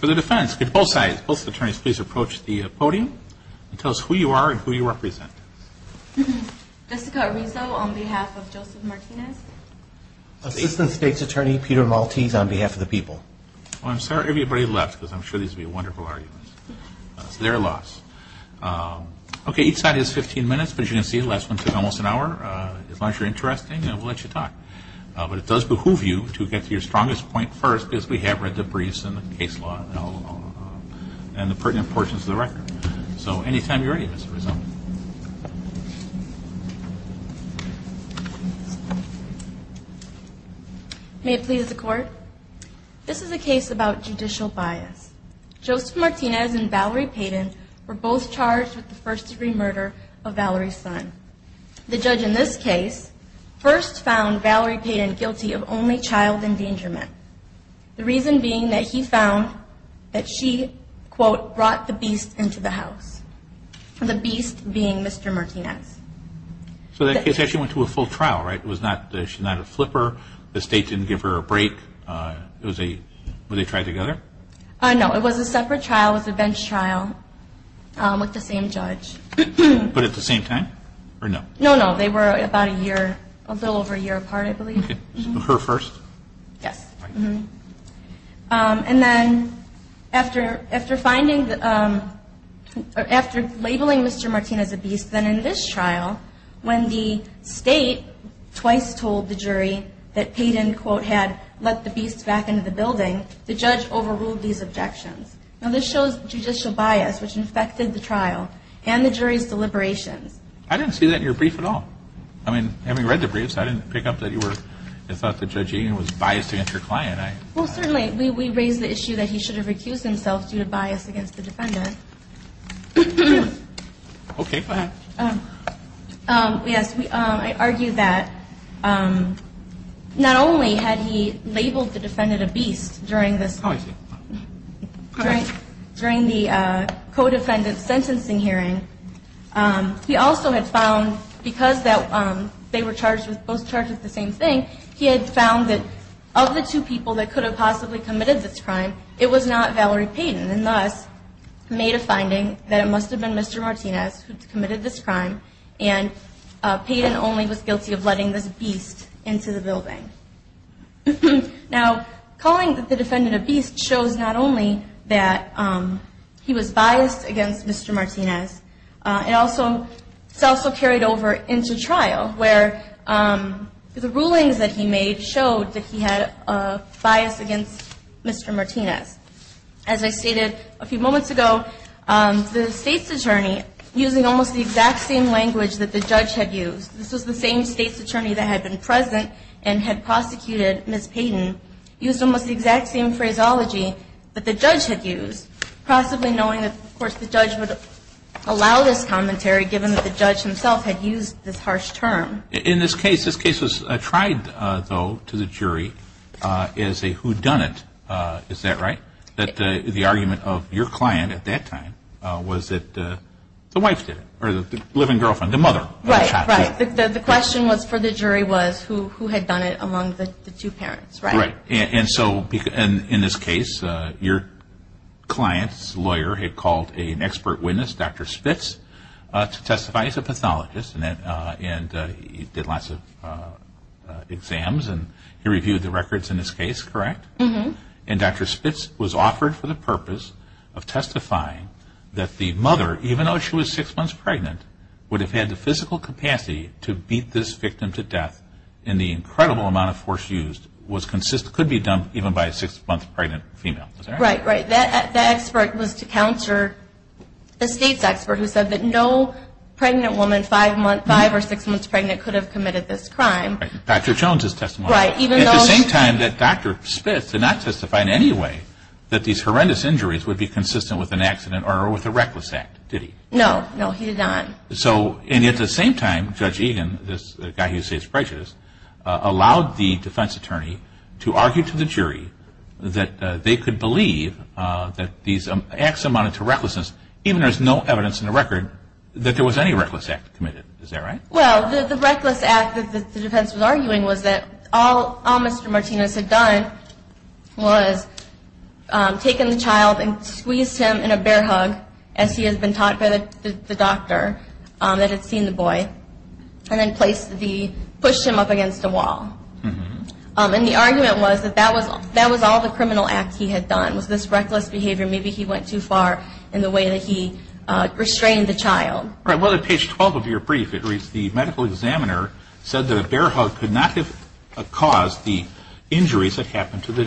For the defense, could both sides, both attorneys, please approach the podium and tell us who you are and who you represent. Jessica Arizo on behalf of Joseph Martinez. Assistant State's Attorney Peter Maltese on behalf of the people. I'm sorry everybody left because I'm sure these will be wonderful arguments. It's their loss. Okay, each side has 15 minutes, but as you can see, the last one took almost an hour. As long as you're interested, we'll let you talk. But it does behoove you to get to your strongest point first because we have read the briefs and the case law and the pertinent portions of the record. So anytime you're ready, Ms. Arizo. May it please the Court? This is a case about judicial bias. Joseph Martinez and Valerie Payden were both charged with the first degree murder of Valerie's son. The judge in this case first found Valerie Payden guilty of only child endangerment. The reason being that he found that she, quote, brought the beast into the house. The beast being Mr. Martinez. So that case actually went to a full trial, right? It was not, she's not a flipper, the state didn't give her a break, it was a, were they tried together? No, it was a separate trial, it was a bench trial with the same judge. But at the same time? Or no? No, no, they were about a year, a little over a year apart I believe. Okay, so her first? Yes. And then after finding, after labeling Mr. Martinez a beast, then in this trial, when the state twice told the jury that Payden, quote, had let the beast back into the building, the judge overruled these objections. Now this shows judicial bias, which infected the trial and the jury's deliberations. I didn't see that in your brief at all. I mean, having read the briefs, I didn't pick up that you were, I thought that Judge Egan was biased against your client. Well, certainly, we raised the issue that he should have recused himself due to bias against the defendant. Okay, go ahead. Yes, I argue that not only had he labeled the defendant a beast during this. Oh, I see. During the co-defendant's sentencing hearing, he also had found, because they were both charged with the same thing, he had found that of the two people that could have possibly committed this crime, it was not Valerie Payden, and thus made a finding that it must have been Mr. Martinez who committed this crime, and Payden only was guilty of letting this beast into the building. Now, calling the defendant a beast shows not only that he was biased against Mr. Martinez, it's also carried over into trial where the rulings that he made showed that he had a bias against Mr. Martinez. As I stated a few moments ago, the state's attorney, using almost the exact same language that the judge had used, this was the same state's attorney that had been present and had prosecuted Ms. Payden, used almost the exact same phraseology that the judge had used, possibly knowing that, of course, the judge would allow this commentary, given that the judge himself had used this harsh term. In this case, this case was tried, though, to the jury as a whodunit, is that right, that the argument of your client at that time was that the wife did it, or the living girlfriend, the mother, The question for the jury was who had done it among the two parents, right? And so, in this case, your client's lawyer had called an expert witness, Dr. Spitz, to testify. He's a pathologist, and he did lots of exams, and he reviewed the records in this case, correct? And Dr. Spitz was offered for the purpose of testifying that the mother, even though she was six months pregnant, would have had the physical capacity to beat this victim to death, and the incredible amount of force used could be done even by a six-month pregnant female. Is that right? Right, right. That expert was to counter the state's expert who said that no pregnant woman five or six months pregnant could have committed this crime. Dr. Jones' testimony. Right, even though At the same time that Dr. Spitz did not testify in any way that these horrendous injuries would be consistent with an accident or with a reckless act, did he? No, no, he did not. So, and at the same time, Judge Egan, this guy who saves precious, allowed the defense attorney to argue to the jury that they could believe that these acts amounted to recklessness, even though there's no evidence in the record that there was any reckless act committed. Is that right? Well, the reckless act that the defense was arguing was that all Mr. Martinez had done was taken the child and squeezed him in a bear hug, as he had been taught by the doctor that had seen the boy, and then pushed him up against the wall. And the argument was that that was all the criminal act he had done, was this reckless behavior. Maybe he went too far in the way that he restrained the child. Right, well, at page 12 of your brief, it reads, it said that a bear hug could not have caused the injuries that happened to the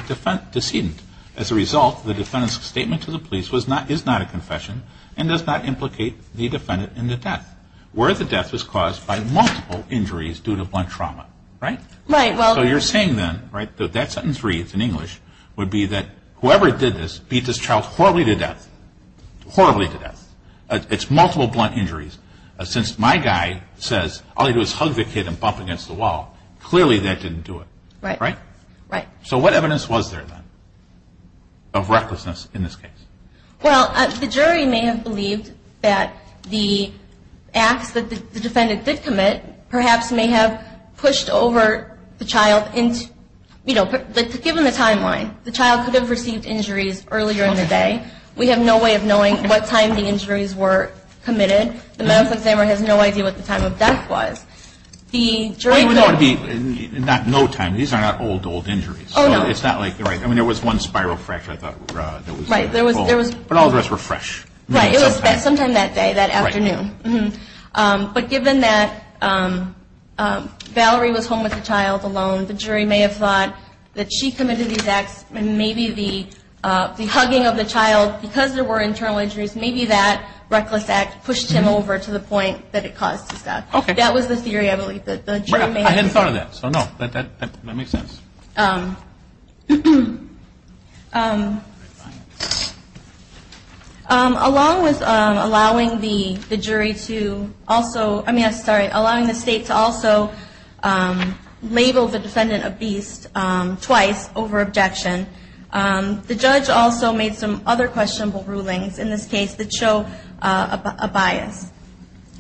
decedent. As a result, the defendant's statement to the police is not a confession and does not implicate the defendant in the death, where the death was caused by multiple injuries due to blunt trauma. Right? Right. So you're saying then, right, that that sentence reads in English, would be that whoever did this beat this child horribly to death, horribly to death. It's multiple blunt injuries. Since my guy says all you do is hug the kid and bump against the wall, clearly that didn't do it. Right. Right? Right. So what evidence was there then of recklessness in this case? Well, the jury may have believed that the acts that the defendant did commit perhaps may have pushed over the child, you know, given the timeline. The child could have received injuries earlier in the day. We have no way of knowing what time the injuries were committed. The medical examiner has no idea what the time of death was. Well, you would know it would be no time. These are not old, old injuries. Oh, no. So it's not like you're right. I mean, there was one spiral fracture, I thought. Right. But all the rest were fresh. Right. It was sometime that day, that afternoon. Right. But given that Valerie was home with the child alone, the jury may have thought that she committed these acts, and maybe the hugging of the child, because there were internal injuries, maybe that reckless act pushed him over to the point that it caused his death. Okay. That was the theory, I believe, that the jury may have. I hadn't thought of that. So, no, that makes sense. Along with allowing the jury to also, I mean, sorry, allowing the state to also label the defendant a beast twice over objection, the judge also made some other questionable rulings in this case that show a bias.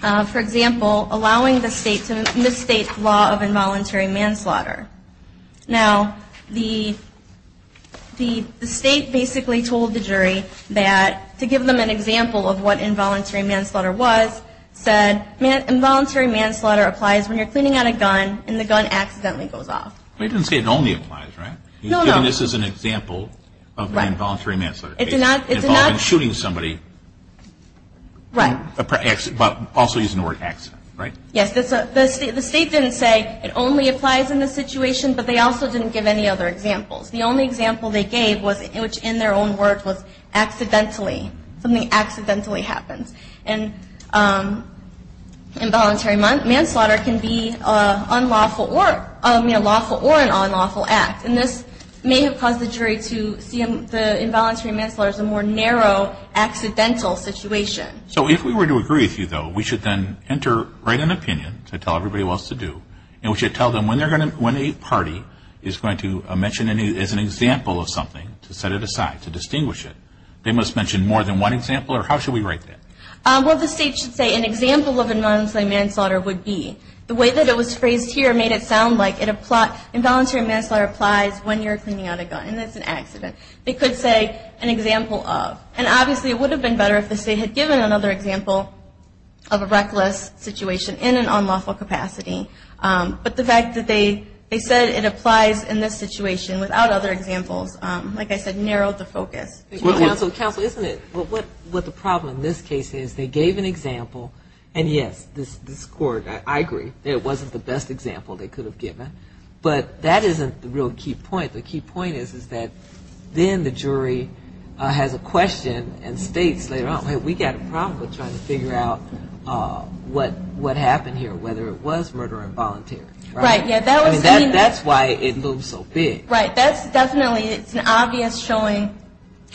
For example, allowing the state to misstate the law of involuntary manslaughter. Now, the state basically told the jury that, to give them an example of what involuntary manslaughter was, said, involuntary manslaughter applies when you're cleaning out a gun, and the gun accidentally goes off. But he didn't say it only applies, right? No, no. He was giving this as an example of involuntary manslaughter. It did not. It involved shooting somebody. Right. But also using the word accident, right? Yes. The state didn't say it only applies in this situation, but they also didn't give any other examples. The only example they gave, which in their own words was accidentally, something accidentally happens. And involuntary manslaughter can be unlawful or an unlawful act. And this may have caused the jury to see involuntary manslaughter as a more narrow, accidental situation. So if we were to agree with you, though, we should then write an opinion to tell everybody what else to do, and we should tell them when a party is going to mention it as an example of something, to set it aside, to distinguish it, they must mention more than one example, or how should we write that? Well, the state should say an example of involuntary manslaughter would be. The way that it was phrased here made it sound like involuntary manslaughter applies when you're cleaning out a gun, and it's an accident. They could say an example of. And obviously it would have been better if the state had given another example of a reckless situation in an unlawful capacity. But the fact that they said it applies in this situation without other examples, like I said, narrowed the focus. Counsel, isn't it what the problem in this case is? They gave an example, and, yes, this Court, I agree, it wasn't the best example they could have given. But that isn't the real key point. The key point is that then the jury has a question and states later on, hey, we got a problem with trying to figure out what happened here, whether it was murder or involuntary. Right. That's why it moved so big. Right. That's definitely an obvious showing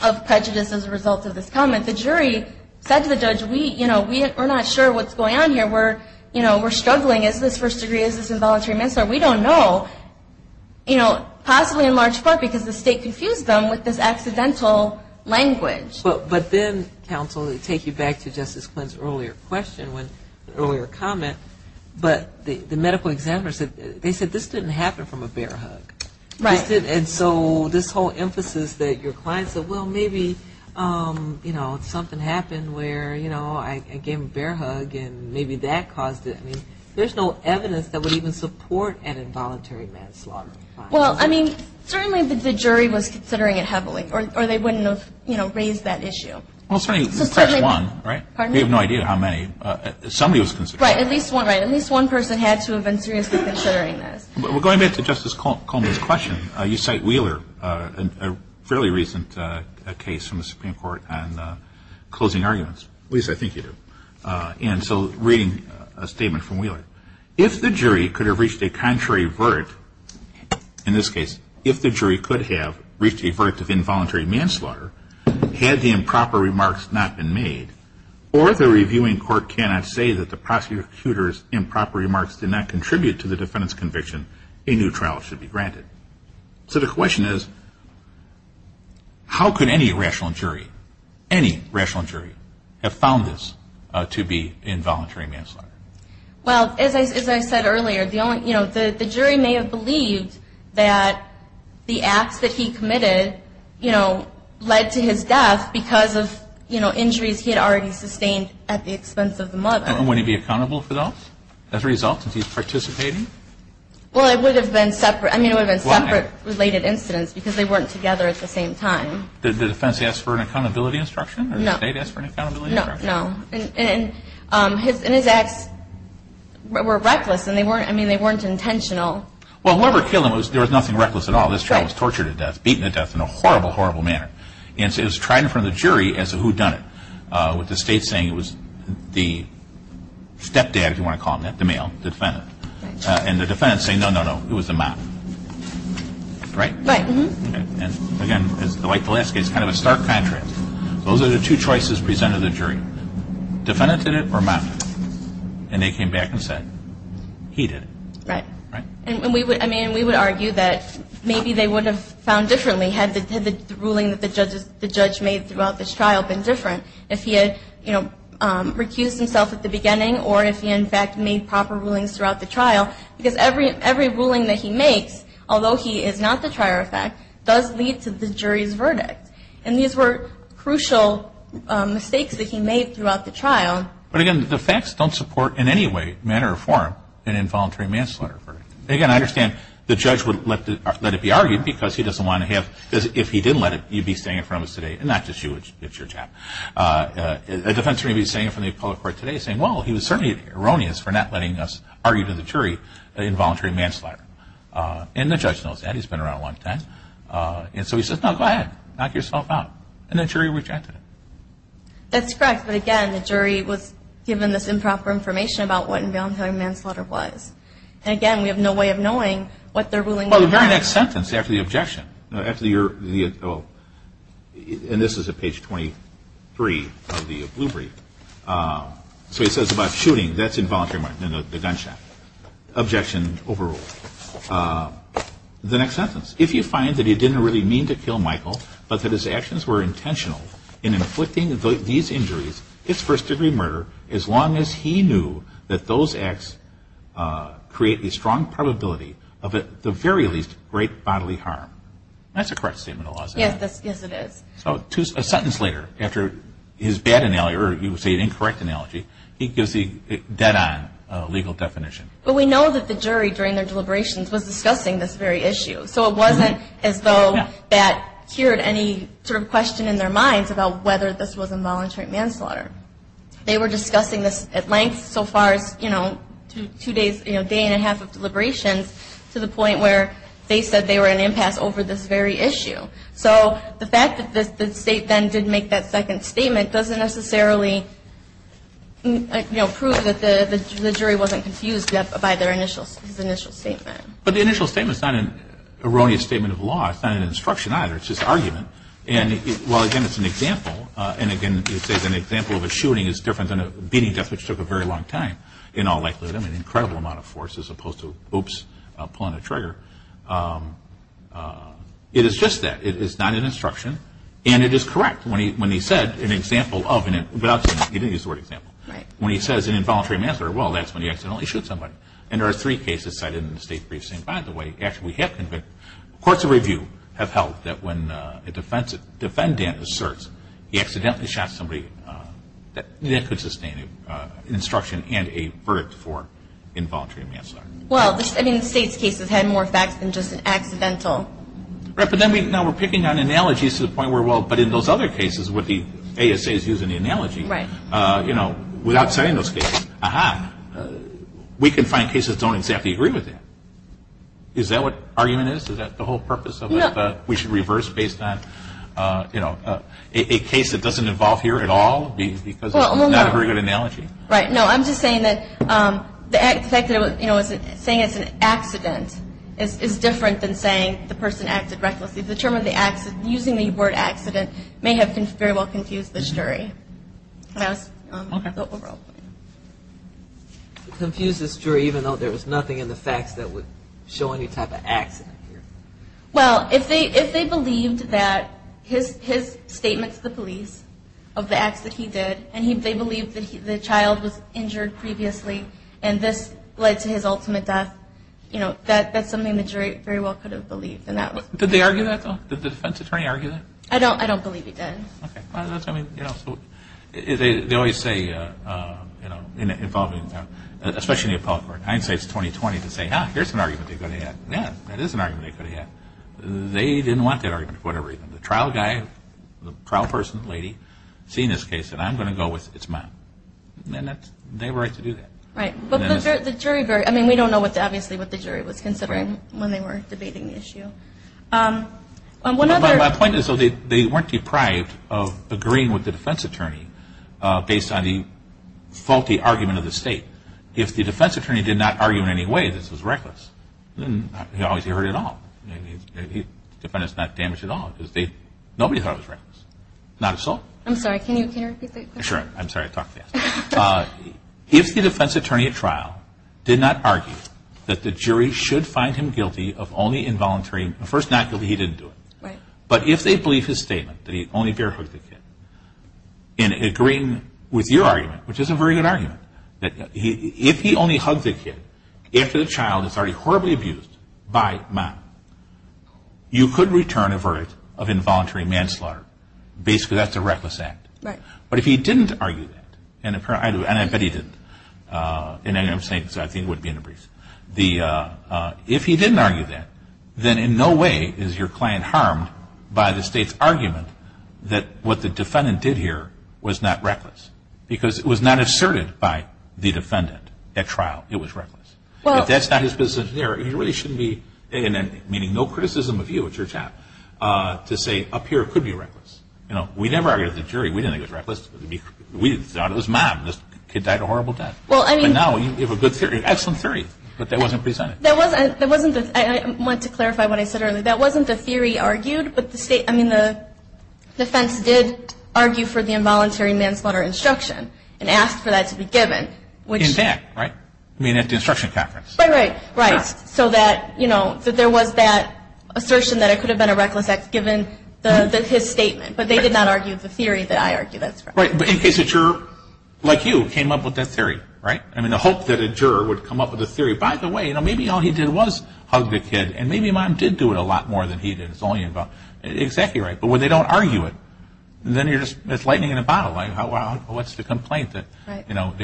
of prejudice as a result of this comment. The jury said to the judge, we're not sure what's going on here. We're struggling. Is this first degree? Is this involuntary manslaughter? We don't know, you know, possibly in large part because the state confused them with this accidental language. But then, counsel, to take you back to Justice Quinn's earlier question, earlier comment, but the medical examiner said this didn't happen from a bear hug. Right. And so this whole emphasis that your client said, well, maybe, you know, something happened where, you know, I gave him a bear hug and maybe that caused it. I mean, there's no evidence that would even support an involuntary manslaughter. Well, I mean, certainly the jury was considering it heavily, or they wouldn't have, you know, raised that issue. Well, certainly, perhaps one, right? Pardon me? We have no idea how many. Somebody was considering it. Right. At least one, right. At least one person had to have been seriously considering this. But we're going back to Justice Coleman's question. You cite Wheeler in a fairly recent case from the Supreme Court on closing arguments. Lisa, I think you do. And so reading a statement from Wheeler, if the jury could have reached a contrary verdict, in this case, if the jury could have reached a verdict of involuntary manslaughter, had the improper remarks not been made, or the reviewing court cannot say that the prosecutor's improper remarks did not contribute to the defendant's conviction, a new trial should be granted. So the question is, how could any rational jury, any rational jury, have found this to be involuntary manslaughter? Well, as I said earlier, you know, the jury may have believed that the acts that he committed, you know, led to his death because of, you know, injuries he had already sustained at the expense of the mother. And would he be accountable for those as a result of his participating? Well, it would have been separate. I mean, it would have been separate related incidents because they weren't together at the same time. Did the defense ask for an accountability instruction? No. Did the state ask for an accountability instruction? No. And his acts were reckless, and they weren't intentional. Well, whoever killed him, there was nothing reckless at all. This child was tortured to death, beaten to death in a horrible, horrible manner. And so it was tried in front of the jury as a whodunit, with the state saying it was the stepdad, if you want to call him that, the male, the defendant. And the defendant saying, no, no, no, it was the mom. Right? Right. And again, like the last case, kind of a stark contrast. Those are the two choices presented to the jury. Defendant did it or mom did it? And they came back and said, he did it. Right. Right. And we would argue that maybe they would have found differently had the ruling that the judge made throughout this trial been different, if he had, you know, recused himself at the beginning or if he, in fact, made proper rulings throughout the trial. Because every ruling that he makes, although he is not the trier of fact, does lead to the jury's verdict. And these were crucial mistakes that he made throughout the trial. But, again, the facts don't support in any way, manner, or form an involuntary manslaughter verdict. Again, I understand the judge would let it be argued because he doesn't want to have, because if he didn't let it, he'd be saying it in front of us today, and not just you, it's your job. A defense jury would be saying it in front of the public court today saying, well, he was certainly erroneous for not letting us argue to the jury an involuntary manslaughter. And the judge knows that. He's been around a long time. And so he says, no, go ahead, knock yourself out. And the jury rejected it. That's correct. But, again, the jury was given this improper information about what involuntary manslaughter was. And, again, we have no way of knowing what their ruling was. Well, the very next sentence after the objection, after your, and this is at page 23 of the blue brief. So he says about shooting, that's involuntary manslaughter, the gunshot. Objection overruled. The next sentence. If you find that he didn't really mean to kill Michael, but that his actions were intentional in inflicting these injuries, it's first-degree murder as long as he knew that those acts create a strong probability of, at the very least, great bodily harm. That's a correct statement of laws, isn't it? Yes, it is. So a sentence later, after his bad analogy, or you would say an incorrect analogy, he gives the dead-on legal definition. But we know that the jury, during their deliberations, was discussing this very issue. So it wasn't as though that cured any sort of question in their minds about whether this was involuntary manslaughter. They were discussing this at length so far as, you know, two days, a day and a half of deliberations to the point where they said they were at an impasse over this very issue. So the fact that the state then didn't make that second statement doesn't necessarily prove that the jury wasn't confused by his initial statement. But the initial statement is not an erroneous statement of law. It's not an instruction either. It's just argument. And, well, again, it's an example. And, again, you say that an example of a shooting is different than a beating death, which took a very long time in all likelihood. I mean, an incredible amount of force as opposed to, oops, pulling a trigger. It is just that. It is not an instruction. And it is correct. When he said an example of an involuntary manslaughter, he didn't use the word example. When he says an involuntary manslaughter, well, that's when you accidentally shoot somebody. And there are three cases cited in the state briefing. By the way, actually, courts of review have held that when a defendant asserts he accidentally shot somebody, that could sustain an instruction and a verdict for involuntary manslaughter. Well, I mean, the state's cases had more facts than just an accidental. Right. But now we're picking on analogies to the point where, well, but in those other cases where the ASA is using the analogy. Right. You know, without citing those cases, ah-ha, we can find cases that don't exactly agree with that. Is that what argument is? Is that the whole purpose of it? No. That we should reverse based on, you know, a case that doesn't involve here at all because it's not a very good analogy? Well, hold on. Right. No, I'm just saying that the fact that, you know, saying it's an accident is different than saying the person acted recklessly. The term of the accident, using the word accident, may have very well confused the jury. Can I ask? Okay. It confused the jury even though there was nothing in the facts that would show any type of accident here. Well, if they believed that his statement to the police of the acts that he did and they believed that the child was injured previously and this led to his ultimate death, you know, that's something the jury very well could have believed. Did they argue that, though? Did the defense attorney argue that? I don't believe he did. Okay. Well, that's, I mean, you know, so they always say, you know, especially in the appellate court, I'd say it's 20-20 to say, ah, here's an argument they could have had. Yeah, that is an argument they could have had. They didn't want that argument for whatever reason. The trial guy, the trial person, lady, seeing this case said, I'm going to go with it's mine. And they were right to do that. Right. But the jury very, I mean, we don't know obviously what the jury was considering when they were debating the issue. My point is, though, they weren't deprived of agreeing with the defense attorney based on the faulty argument of the state. If the defense attorney did not argue in any way that this was reckless, he heard it all. The defendant's not damaged at all. Nobody thought it was reckless. Not a soul. I'm sorry, can you repeat the question? Sure. I'm sorry, I talk fast. If the defense attorney at trial did not argue that the jury should find him guilty of only involuntary, first, not guilty, he didn't do it. Right. But if they believe his statement, that he only bare-hugged the kid, in agreeing with your argument, which is a very good argument, that if he only hugged the kid after the child is already horribly abused by mom, you could return a verdict of involuntary manslaughter. Basically, that's a reckless act. Right. But if he didn't argue that, and I bet he didn't, and I'm saying this because I think it would be in the briefs, if he didn't argue that, then in no way is your client harmed by the state's argument that what the defendant did here was not reckless, because it was not asserted by the defendant at trial it was reckless. If that's not his business in there, he really shouldn't be, meaning no criticism of you at your job, to say up here it could be reckless. You know, we never argued with the jury. We didn't think it was reckless. We thought it was mom. The kid died a horrible death. But now you have a good theory, an excellent theory, but that wasn't presented. I want to clarify what I said earlier. That wasn't the theory argued, but the defense did argue for the involuntary manslaughter instruction and asked for that to be given. In fact, right? I mean at the instruction conference. Right, right, right. So that, you know, that there was that assertion that it could have been a reckless act given his statement. But they did not argue the theory that I argued. Right, but in case a juror like you came up with that theory, right? I mean, I hope that a juror would come up with a theory. By the way, you know, maybe all he did was hug the kid, and maybe mom did do it a lot more than he did. It's all you involved. Exactly right. But when they don't argue it, then you're just, it's lightning in a bottle. Like, well, what's the complaint that, you know,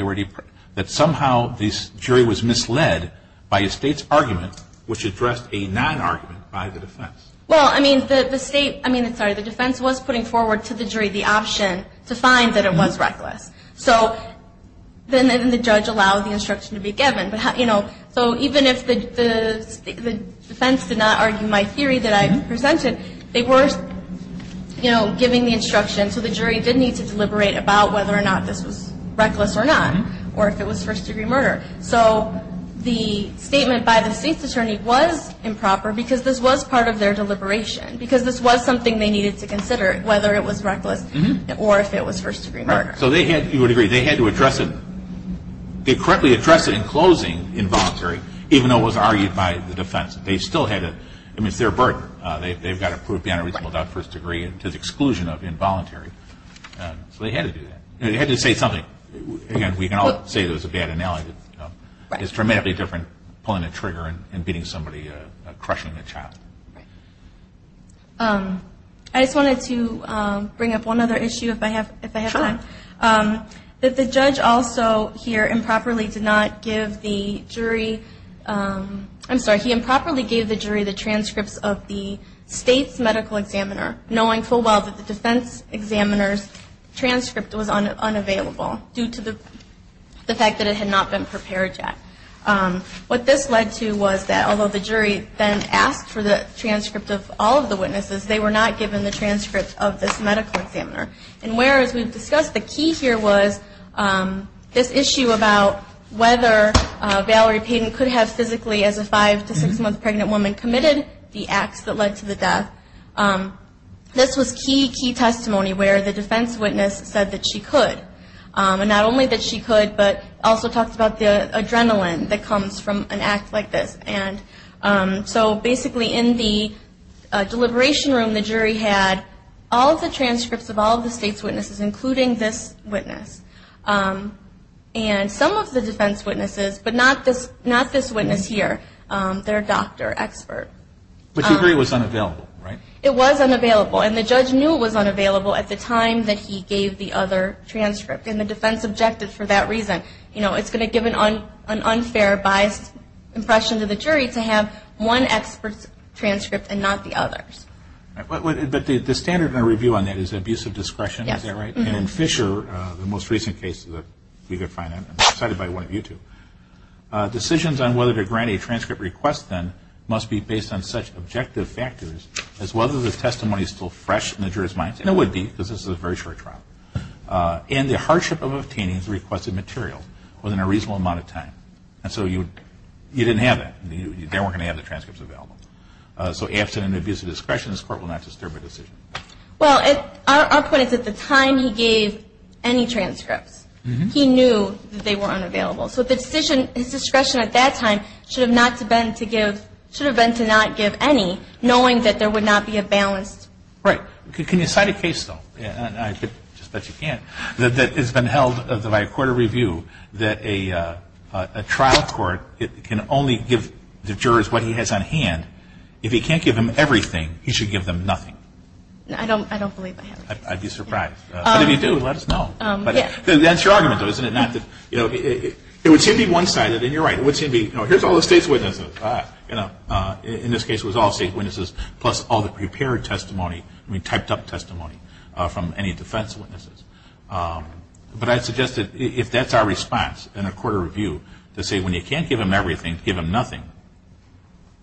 that somehow this jury was misled by a state's argument, which addressed a non-argument by the defense? Well, I mean, the state, I mean, sorry, the defense was putting forward to the jury the option to find that it was reckless. So then the judge allowed the instruction to be given. But, you know, so even if the defense did not argue my theory that I presented, they were, you know, giving the instruction. So the jury did need to deliberate about whether or not this was reckless or not, or if it was first-degree murder. So the statement by the state's attorney was improper because this was part of their deliberation, because this was something they needed to consider, whether it was reckless or if it was first-degree murder. Right. So they had, you would agree, they had to address it, they correctly addressed it in closing involuntary, even though it was argued by the defense. They still had to, I mean, it's their burden. They've got to prove beyond a reasonable doubt first degree to the exclusion of involuntary. So they had to do that. They had to say something. Again, we can all say it was a bad analogy. It's dramatically different pulling a trigger and beating somebody, crushing a child. Right. I just wanted to bring up one other issue if I have time. Sure. That the judge also here improperly did not give the jury, I'm sorry, he improperly gave the jury the transcripts of the state's medical examiner, knowing full well that the defense examiner's transcript was unavailable due to the fact that it had not been prepared yet. What this led to was that although the jury then asked for the transcript of all of the witnesses, they were not given the transcript of this medical examiner. And whereas we've discussed the key here was this issue about whether Valerie Payden could have physically, as a five- to six-month pregnant woman, committed the acts that led to the death, this was key, key testimony where the defense witness said that she could. And not only that she could, but also talked about the adrenaline that comes from an act like this. And so basically in the deliberation room, the jury had all of the transcripts of all of the state's witnesses, including this witness. And some of the defense witnesses, but not this witness here, their doctor expert. But the jury was unavailable, right? It was unavailable. And the judge knew it was unavailable at the time that he gave the other transcript. And the defense objected for that reason. You know, it's going to give an unfair, biased impression to the jury to have one expert's transcript and not the other's. But the standard in our review on that is abuse of discretion, is that right? Yes. And in Fisher, the most recent case that we could find, I'm excited by one of you two, decisions on whether to grant a transcript request then must be based on such objective factors as whether the testimony is still fresh in the jury's minds. And it would be, because this is a very short trial. And the hardship of obtaining the requested material within a reasonable amount of time. And so you didn't have that. They weren't going to have the transcripts available. So absent an abuse of discretion, this Court will not disturb a decision. Well, our point is at the time he gave any transcripts, he knew that they were unavailable. So the decision, his discretion at that time should have not been to give, should have been to not give any, knowing that there would not be a balanced. Right. Can you cite a case, though, and I bet you can't, that has been held by a court of review that a trial court can only give the jurors what he has on hand. If he can't give them everything, he should give them nothing. I don't believe that happens. I'd be surprised. But if you do, let us know. But that's your argument, though, isn't it? Not that, you know, it would seem to be one-sided, and you're right. It would seem to be, you know, here's all the state's witnesses. You know, in this case it was all state witnesses plus all the prepared testimony, I mean typed up testimony from any defense witnesses. But I'd suggest that if that's our response in a court of review, to say when you can't give them everything, give them nothing,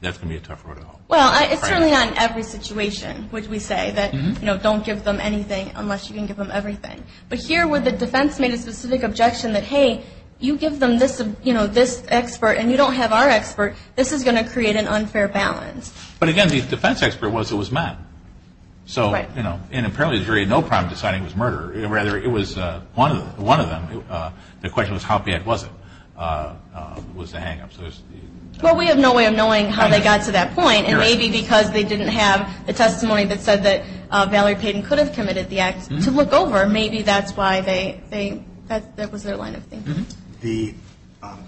that's going to be a tough road at all. Well, it's certainly not in every situation, which we say, that, you know, don't give them anything unless you can give them everything. But here where the defense made a specific objection that, hey, you give them this expert and you don't have our expert, this is going to create an unfair balance. But, again, the defense expert was it was Matt. So, you know, in apparently jury, no crime deciding was murder. Rather, it was one of them. The question was how bad was it, was the hang-up. Well, we have no way of knowing how they got to that point. And maybe because they didn't have the testimony that said that Valerie Payton could have committed the act to look over, maybe that's why they, that was their line of thinking. The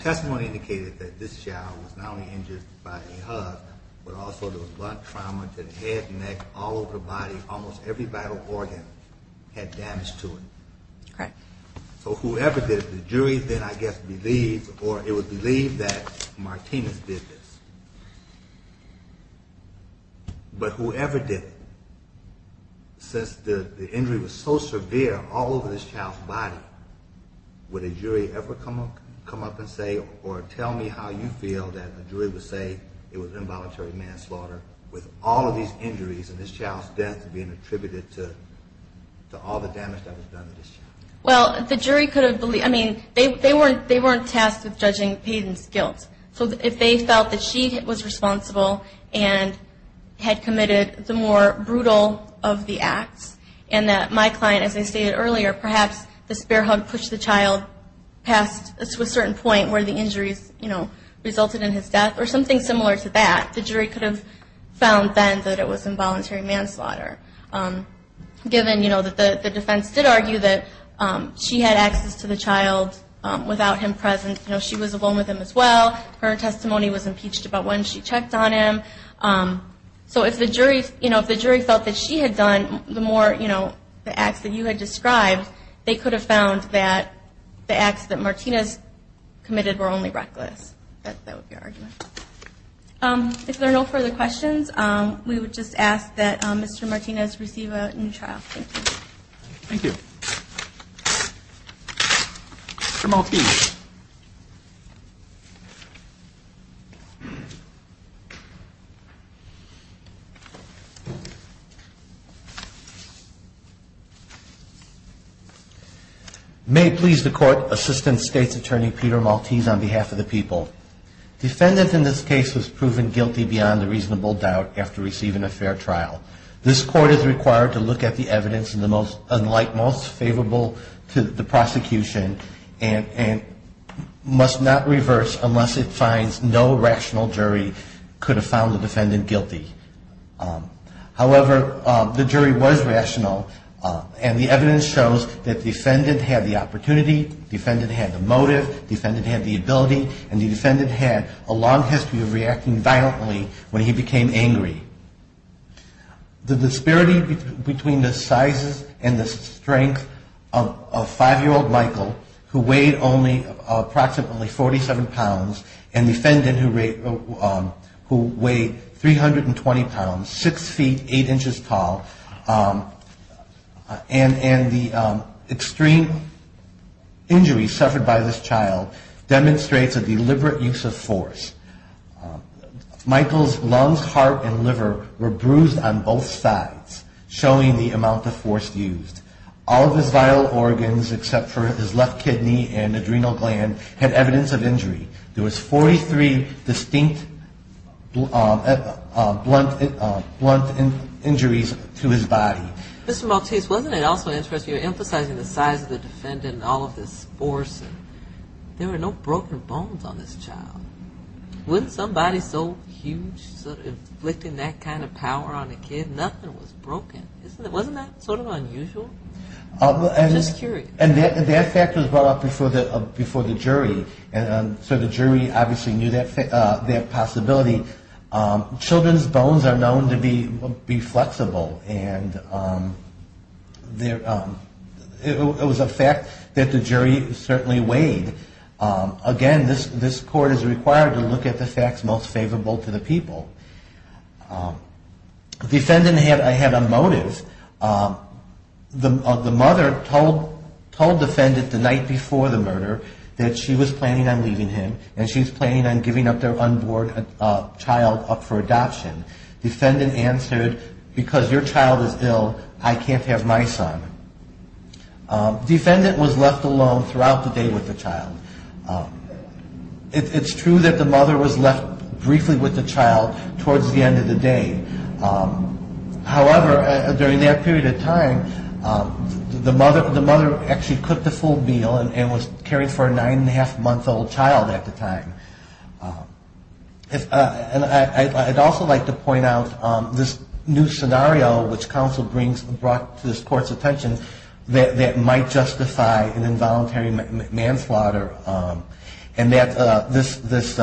testimony indicated that this child was not only injured by a hug, but also there was blood trauma to the head, neck, all over the body. Almost every vital organ had damage to it. Correct. So whoever did it, the jury then, I guess, believed or it was believed that Martinez did this. But whoever did it, since the injury was so severe all over this child's body, would a jury ever come up and say or tell me how you feel that the jury would say it was involuntary manslaughter with all of these injuries and this child's death being attributed to all the damage that was done to this child? Well, the jury could have, I mean, they weren't tasked with judging Payton's guilt. So if they felt that she was responsible and had committed the more brutal of the acts, and that my client, as I stated earlier, perhaps the spare hug pushed the child past a certain point where the injuries, you know, resulted in his death or something similar to that, the jury could have found then that it was involuntary manslaughter. Given, you know, that the defense did argue that she had access to the child without him present. You know, she was alone with him as well. Her testimony was impeached about when she checked on him. So if the jury felt that she had done the more, you know, the acts that you had described, they could have found that the acts that Martinez committed were only reckless. That would be our argument. If there are no further questions, we would just ask that Mr. Martinez receive a new trial. Thank you. Thank you. Mr. Maltese. May it please the Court, Assistant State's Attorney Peter Maltese on behalf of the people. Defendant in this case was proven guilty beyond a reasonable doubt after receiving a fair trial. This Court is required to look at the evidence in the most, and like most favorable to the prosecution, and must not reverse unless it finds no rational jury could have found the defendant guilty. However, the jury was rational, and the evidence shows that the defendant had the opportunity, the defendant had the motive, the defendant had the ability, and the defendant had a long history of reacting violently when he became angry. The disparity between the sizes and the strength of 5-year-old Michael, who weighed only approximately 47 pounds, and the defendant who weighed 320 pounds, 6 feet, 8 inches tall, and the extreme injury suffered by this child demonstrates a deliberate use of force. Michael's lungs, heart, and liver were bruised on both sides, showing the amount of force used. All of his vital organs, except for his left kidney and adrenal gland, had evidence of injury. There was 43 distinct blunt injuries to his body. Mr. Maltese, wasn't it also interesting, you're emphasizing the size of the defendant and all of this force. There were no broken bones on this child. Wasn't somebody so huge sort of inflicting that kind of power on a kid? Nothing was broken. Wasn't that sort of unusual? I'm just curious. And that fact was brought up before the jury, and so the jury obviously knew that possibility. Children's bones are known to be flexible, and it was a fact that the jury certainly weighed. Again, this court is required to look at the facts most favorable to the people. The defendant had a motive. The mother told defendant the night before the murder that she was planning on leaving him, and she was planning on giving up their unborn child up for adoption. Defendant answered, because your child is ill, I can't have my son. Defendant was left alone throughout the day with the child. It's true that the mother was left briefly with the child towards the end of the day. However, during that period of time, the mother actually cooked the full meal and was caring for a nine-and-a-half-month-old child at the time. I'd also like to point out this new scenario which counsel brought to this court's attention that might justify an involuntary manslaughter, and this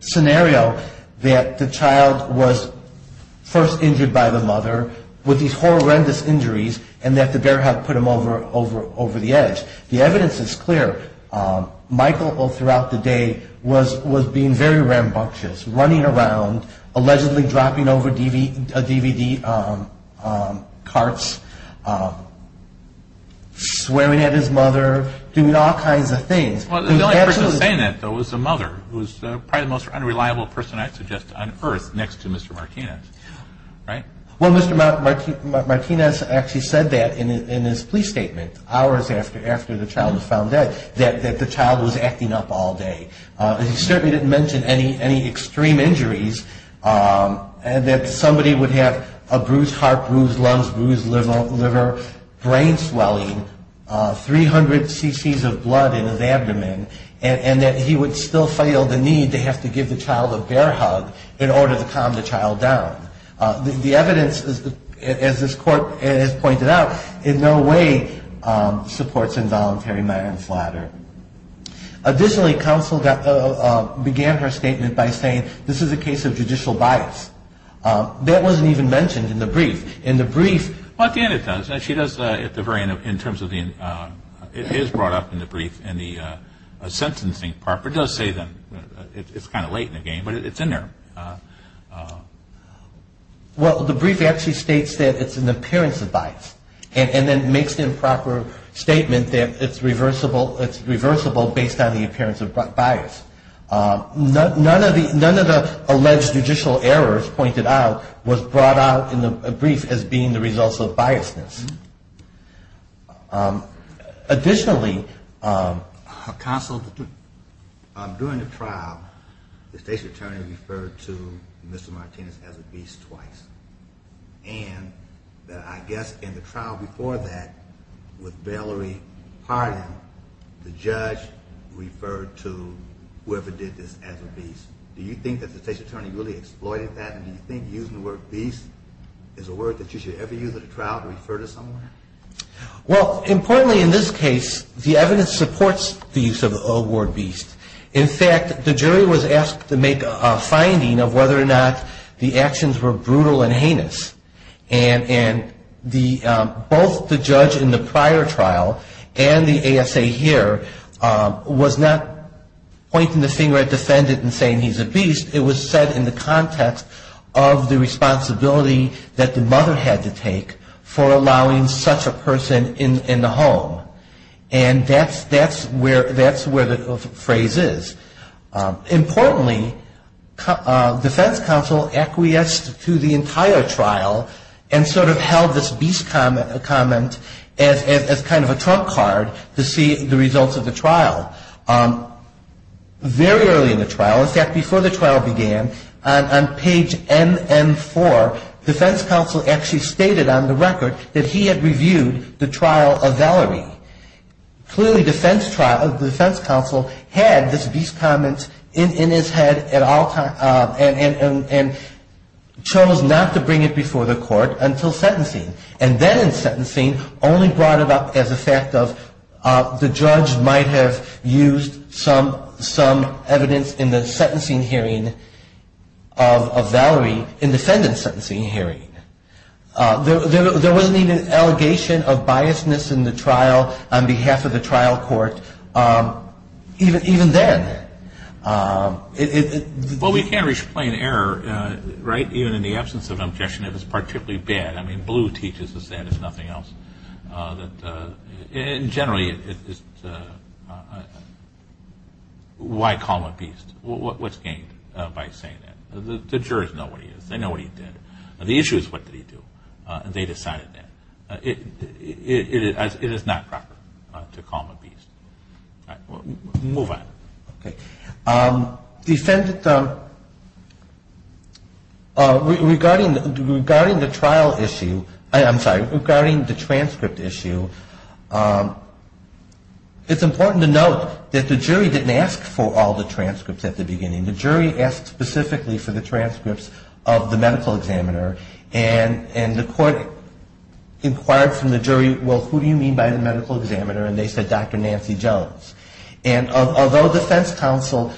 scenario that the child was first injured by the mother with these horrendous injuries and that the bear hug put him over the edge. The evidence is clear. Michael, throughout the day, was being very rambunctious, running around, allegedly dropping over DVD carts, swearing at his mother, doing all kinds of things. The only person saying that, though, was the mother, who was probably the most unreliable person I'd suggest on earth next to Mr. Martinez, right? Well, Mr. Martinez actually said that in his police statement hours after the child was found dead, that the child was acting up all day. He certainly didn't mention any extreme injuries, that somebody would have a bruised heart, bruised lungs, bruised liver, brain swelling, 300 cc's of blood in his abdomen, and that he would still feel the need to have to give the child a bear hug in order to calm the child down. The evidence, as this court has pointed out, in no way supports involuntary manslaughter. Additionally, counsel began her statement by saying this is a case of judicial bias. That wasn't even mentioned in the brief. Well, at the end it does. It is brought up in the brief in the sentencing part, but it does say that it's kind of late in the game, but it's in there. Well, the brief actually states that it's an appearance of bias, and then makes the improper statement that it's reversible based on the appearance of bias. None of the alleged judicial errors pointed out was brought out in the brief as being the results of biasness. Additionally, counsel, during the trial, the state's attorney referred to Mr. Martinez as a beast twice, and I guess in the trial before that with Valerie Hardin, the judge referred to whoever did this as a beast. Do you think that the state's attorney really exploited that, and do you think using the word beast is a word that you should ever use at a trial to refer to someone? Well, importantly in this case, the evidence supports the use of the old word beast. In fact, the jury was asked to make a finding of whether or not the actions were brutal and heinous, and both the judge in the prior trial and the ASA here was not pointing the finger at the defendant and saying he's a beast. It was said in the context of the responsibility that the mother had to take for allowing such a person in the home, and that's where the phrase is. Importantly, defense counsel acquiesced to the entire trial and sort of held this beast comment as kind of a trump card to see the results of the trial. Very early in the trial, in fact, before the trial began, on page NN4, defense counsel actually stated on the record that he had reviewed the trial of Valerie. Clearly the defense counsel had this beast comment in his head at all times and chose not to bring it before the court until sentencing, and then in sentencing only brought it up as a fact of the judge might have used some evidence in the sentencing hearing of Valerie in the defendant's sentencing hearing. There wasn't even an allegation of biasness in the trial on behalf of the trial court even then. Well, we can't reach plain error, right, even in the absence of objection if it's particularly bad. I mean, Blue teaches us that, if nothing else. Generally, why call him a beast? What's gained by saying that? The jurors know what he is. They know what he did. The issue is what did he do, and they decided that. It is not proper to call him a beast. All right. Move on. Okay. The defendant, regarding the trial issue, I'm sorry, regarding the transcript issue, it's important to note that the jury didn't ask for all the transcripts at the beginning. The jury asked specifically for the transcripts of the medical examiner, and the court inquired from the jury, well, who do you mean by the medical examiner, and they said Dr. Nancy Jones. And although defense counsel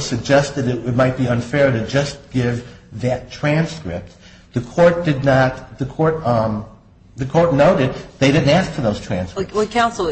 suggested it might be unfair to just give that transcript, the court noted they didn't ask for those transcripts. Counsel,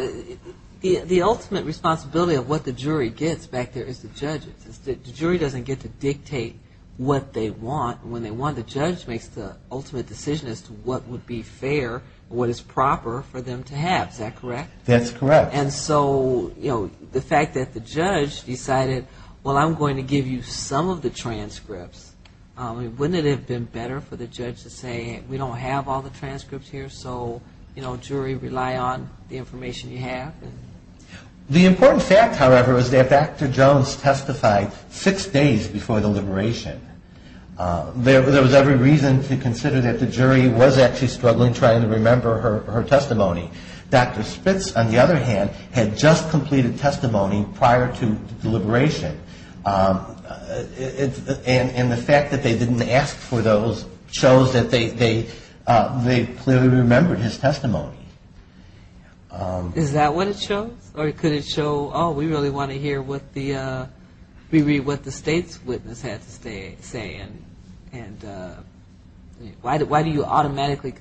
the ultimate responsibility of what the jury gets back there is the judge's. The jury doesn't get to dictate what they want. When they want, the judge makes the ultimate decision as to what would be fair, what is proper for them to have. Is that correct? That's correct. And so, you know, the fact that the judge decided, well, I'm going to give you some of the transcripts, wouldn't it have been better for the judge to say we don't have all the transcripts here, and so, you know, jury, rely on the information you have? The important fact, however, is that Dr. Jones testified six days before the liberation. There was every reason to consider that the jury was actually struggling trying to remember her testimony. Dr. Spitz, on the other hand, had just completed testimony prior to the liberation, and the fact that they didn't ask for those shows that they clearly remembered his testimony. Is that what it shows? Or could it show, oh, we really want to hear what the state's witness had to say, and why do you automatically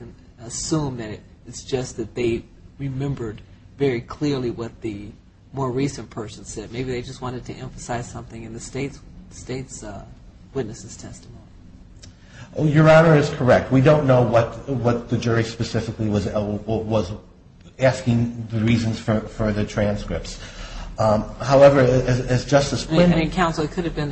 assume that it's just that they remembered very clearly what the more recent person said? Maybe they just wanted to emphasize something in the state's witness's testimony. Your Honor is correct. We don't know what the jury specifically was asking the reasons for the transcripts. However, as Justice Blanton ---- Counsel, it could have been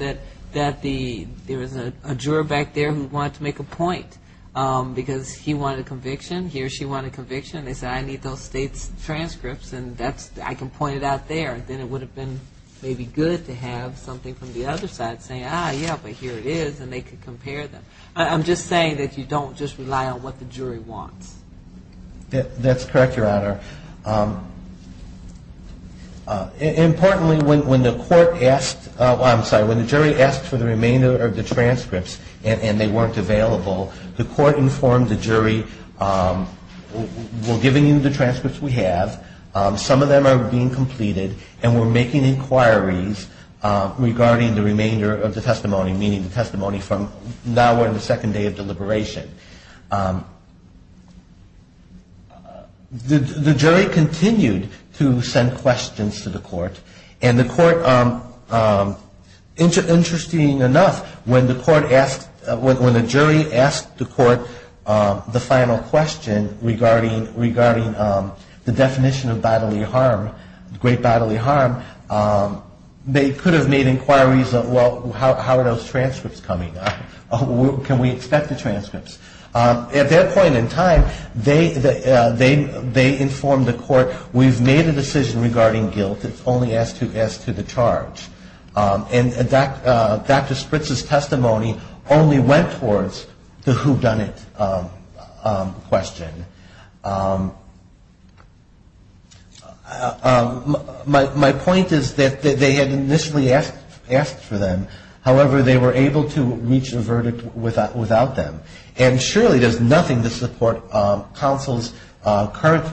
that there was a juror back there who wanted to make a point, because he wanted a conviction, he or she wanted a conviction. They said, I need those state's transcripts, and I can point it out there. Then it would have been maybe good to have something from the other side saying, ah, yeah, but here it is, and they could compare them. I'm just saying that you don't just rely on what the jury wants. That's correct, Your Honor. Importantly, when the court asked ---- I'm sorry, when the jury asked for the remainder of the transcripts and they weren't available, the court informed the jury, we're giving you the transcripts we have. Some of them are being completed, and we're making inquiries regarding the remainder of the testimony, meaning the testimony from now on the second day of deliberation. The jury continued to send questions to the court, and the court, interesting enough, when the court asked, when the jury asked the court the final question regarding the definition of bodily harm, great bodily harm, they could have made inquiries of, well, how are those transcripts coming? Can we expect the transcripts? At that point in time, they informed the court, we've made a decision regarding guilt. It's only as to the charge. And Dr. Spritz's testimony only went towards the whodunit question. My point is that they had initially asked for them. However, they were able to reach a verdict without them. And surely there's nothing to support counsel's current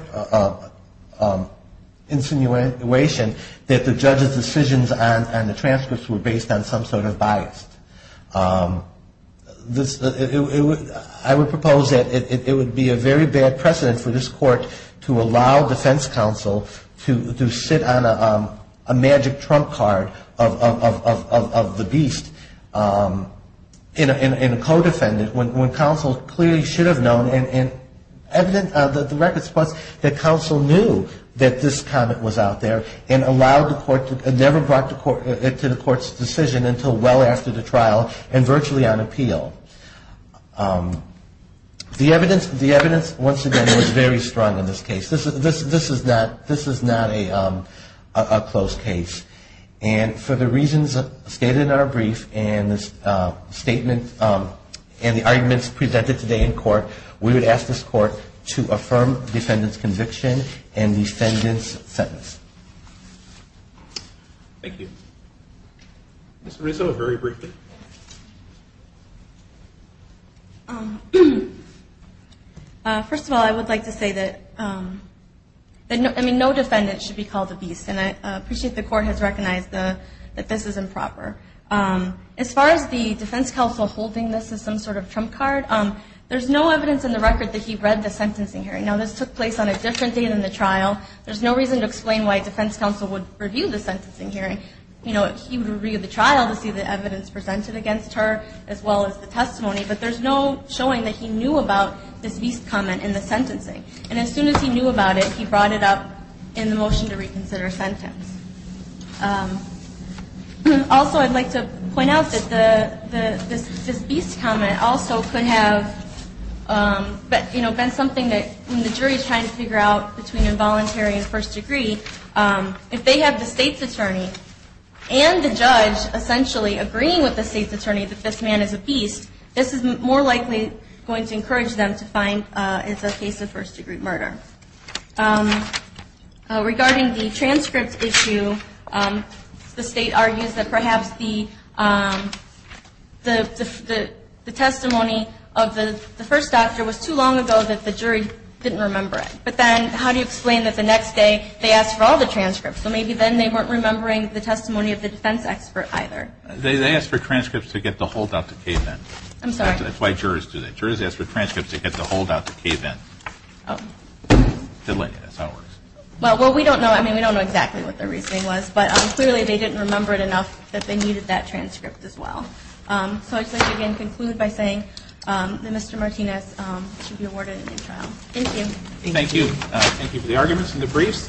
insinuation that the judge's decisions on the transcripts were based on some sort of bias. I would propose that it would be a very bad precedent for this court to allow defense counsel to sit on a magic trump card of the beast in a co-defendant when counsel clearly should have known, and the record supports that counsel knew that this comment was out there and never brought it to the court's decision until well after the trial and virtually on appeal. The evidence, once again, was very strong in this case. This is not a closed case. And for the reasons stated in our brief and the arguments presented today in court, we would ask this court to affirm defendant's conviction and defendant's sentence. Thank you. Ms. Rizzo, very briefly. First of all, I would like to say that no defendant should be called a beast. And I appreciate the court has recognized that this is improper. As far as the defense counsel holding this as some sort of trump card, there's no evidence in the record that he read the sentencing hearing. Now, this took place on a different day than the trial. There's no reason to explain why defense counsel would review the sentencing hearing. You know, he would review the trial to see the evidence presented against her as well as the testimony. But there's no showing that he knew about this beast comment in the sentencing. And as soon as he knew about it, he brought it up in the motion to reconsider sentence. Also, I'd like to point out that this beast comment also could have, you know, been something that when the jury is trying to figure out between involuntary and first degree, if they have the state's attorney and the judge essentially agreeing with the state's attorney that this man is a beast, this is more likely going to encourage them to find it's a case of first degree murder. Regarding the transcript issue, the state argues that perhaps the testimony of the first doctor was too long ago that the jury didn't remember it. But then how do you explain that the next day they asked for all the transcripts? So maybe then they weren't remembering the testimony of the defense expert either. They asked for transcripts to get the holdout to cave in. I'm sorry. That's why jurors do that. Jurors ask for transcripts to get the holdout to cave in. That's how it works. Well, we don't know. I mean, we don't know exactly what their reasoning was. But clearly they didn't remember it enough that they needed that transcript as well. So I'd like to again conclude by saying that Mr. Martinez should be awarded a new trial. Thank you. Thank you. Thank you for the arguments and the briefs.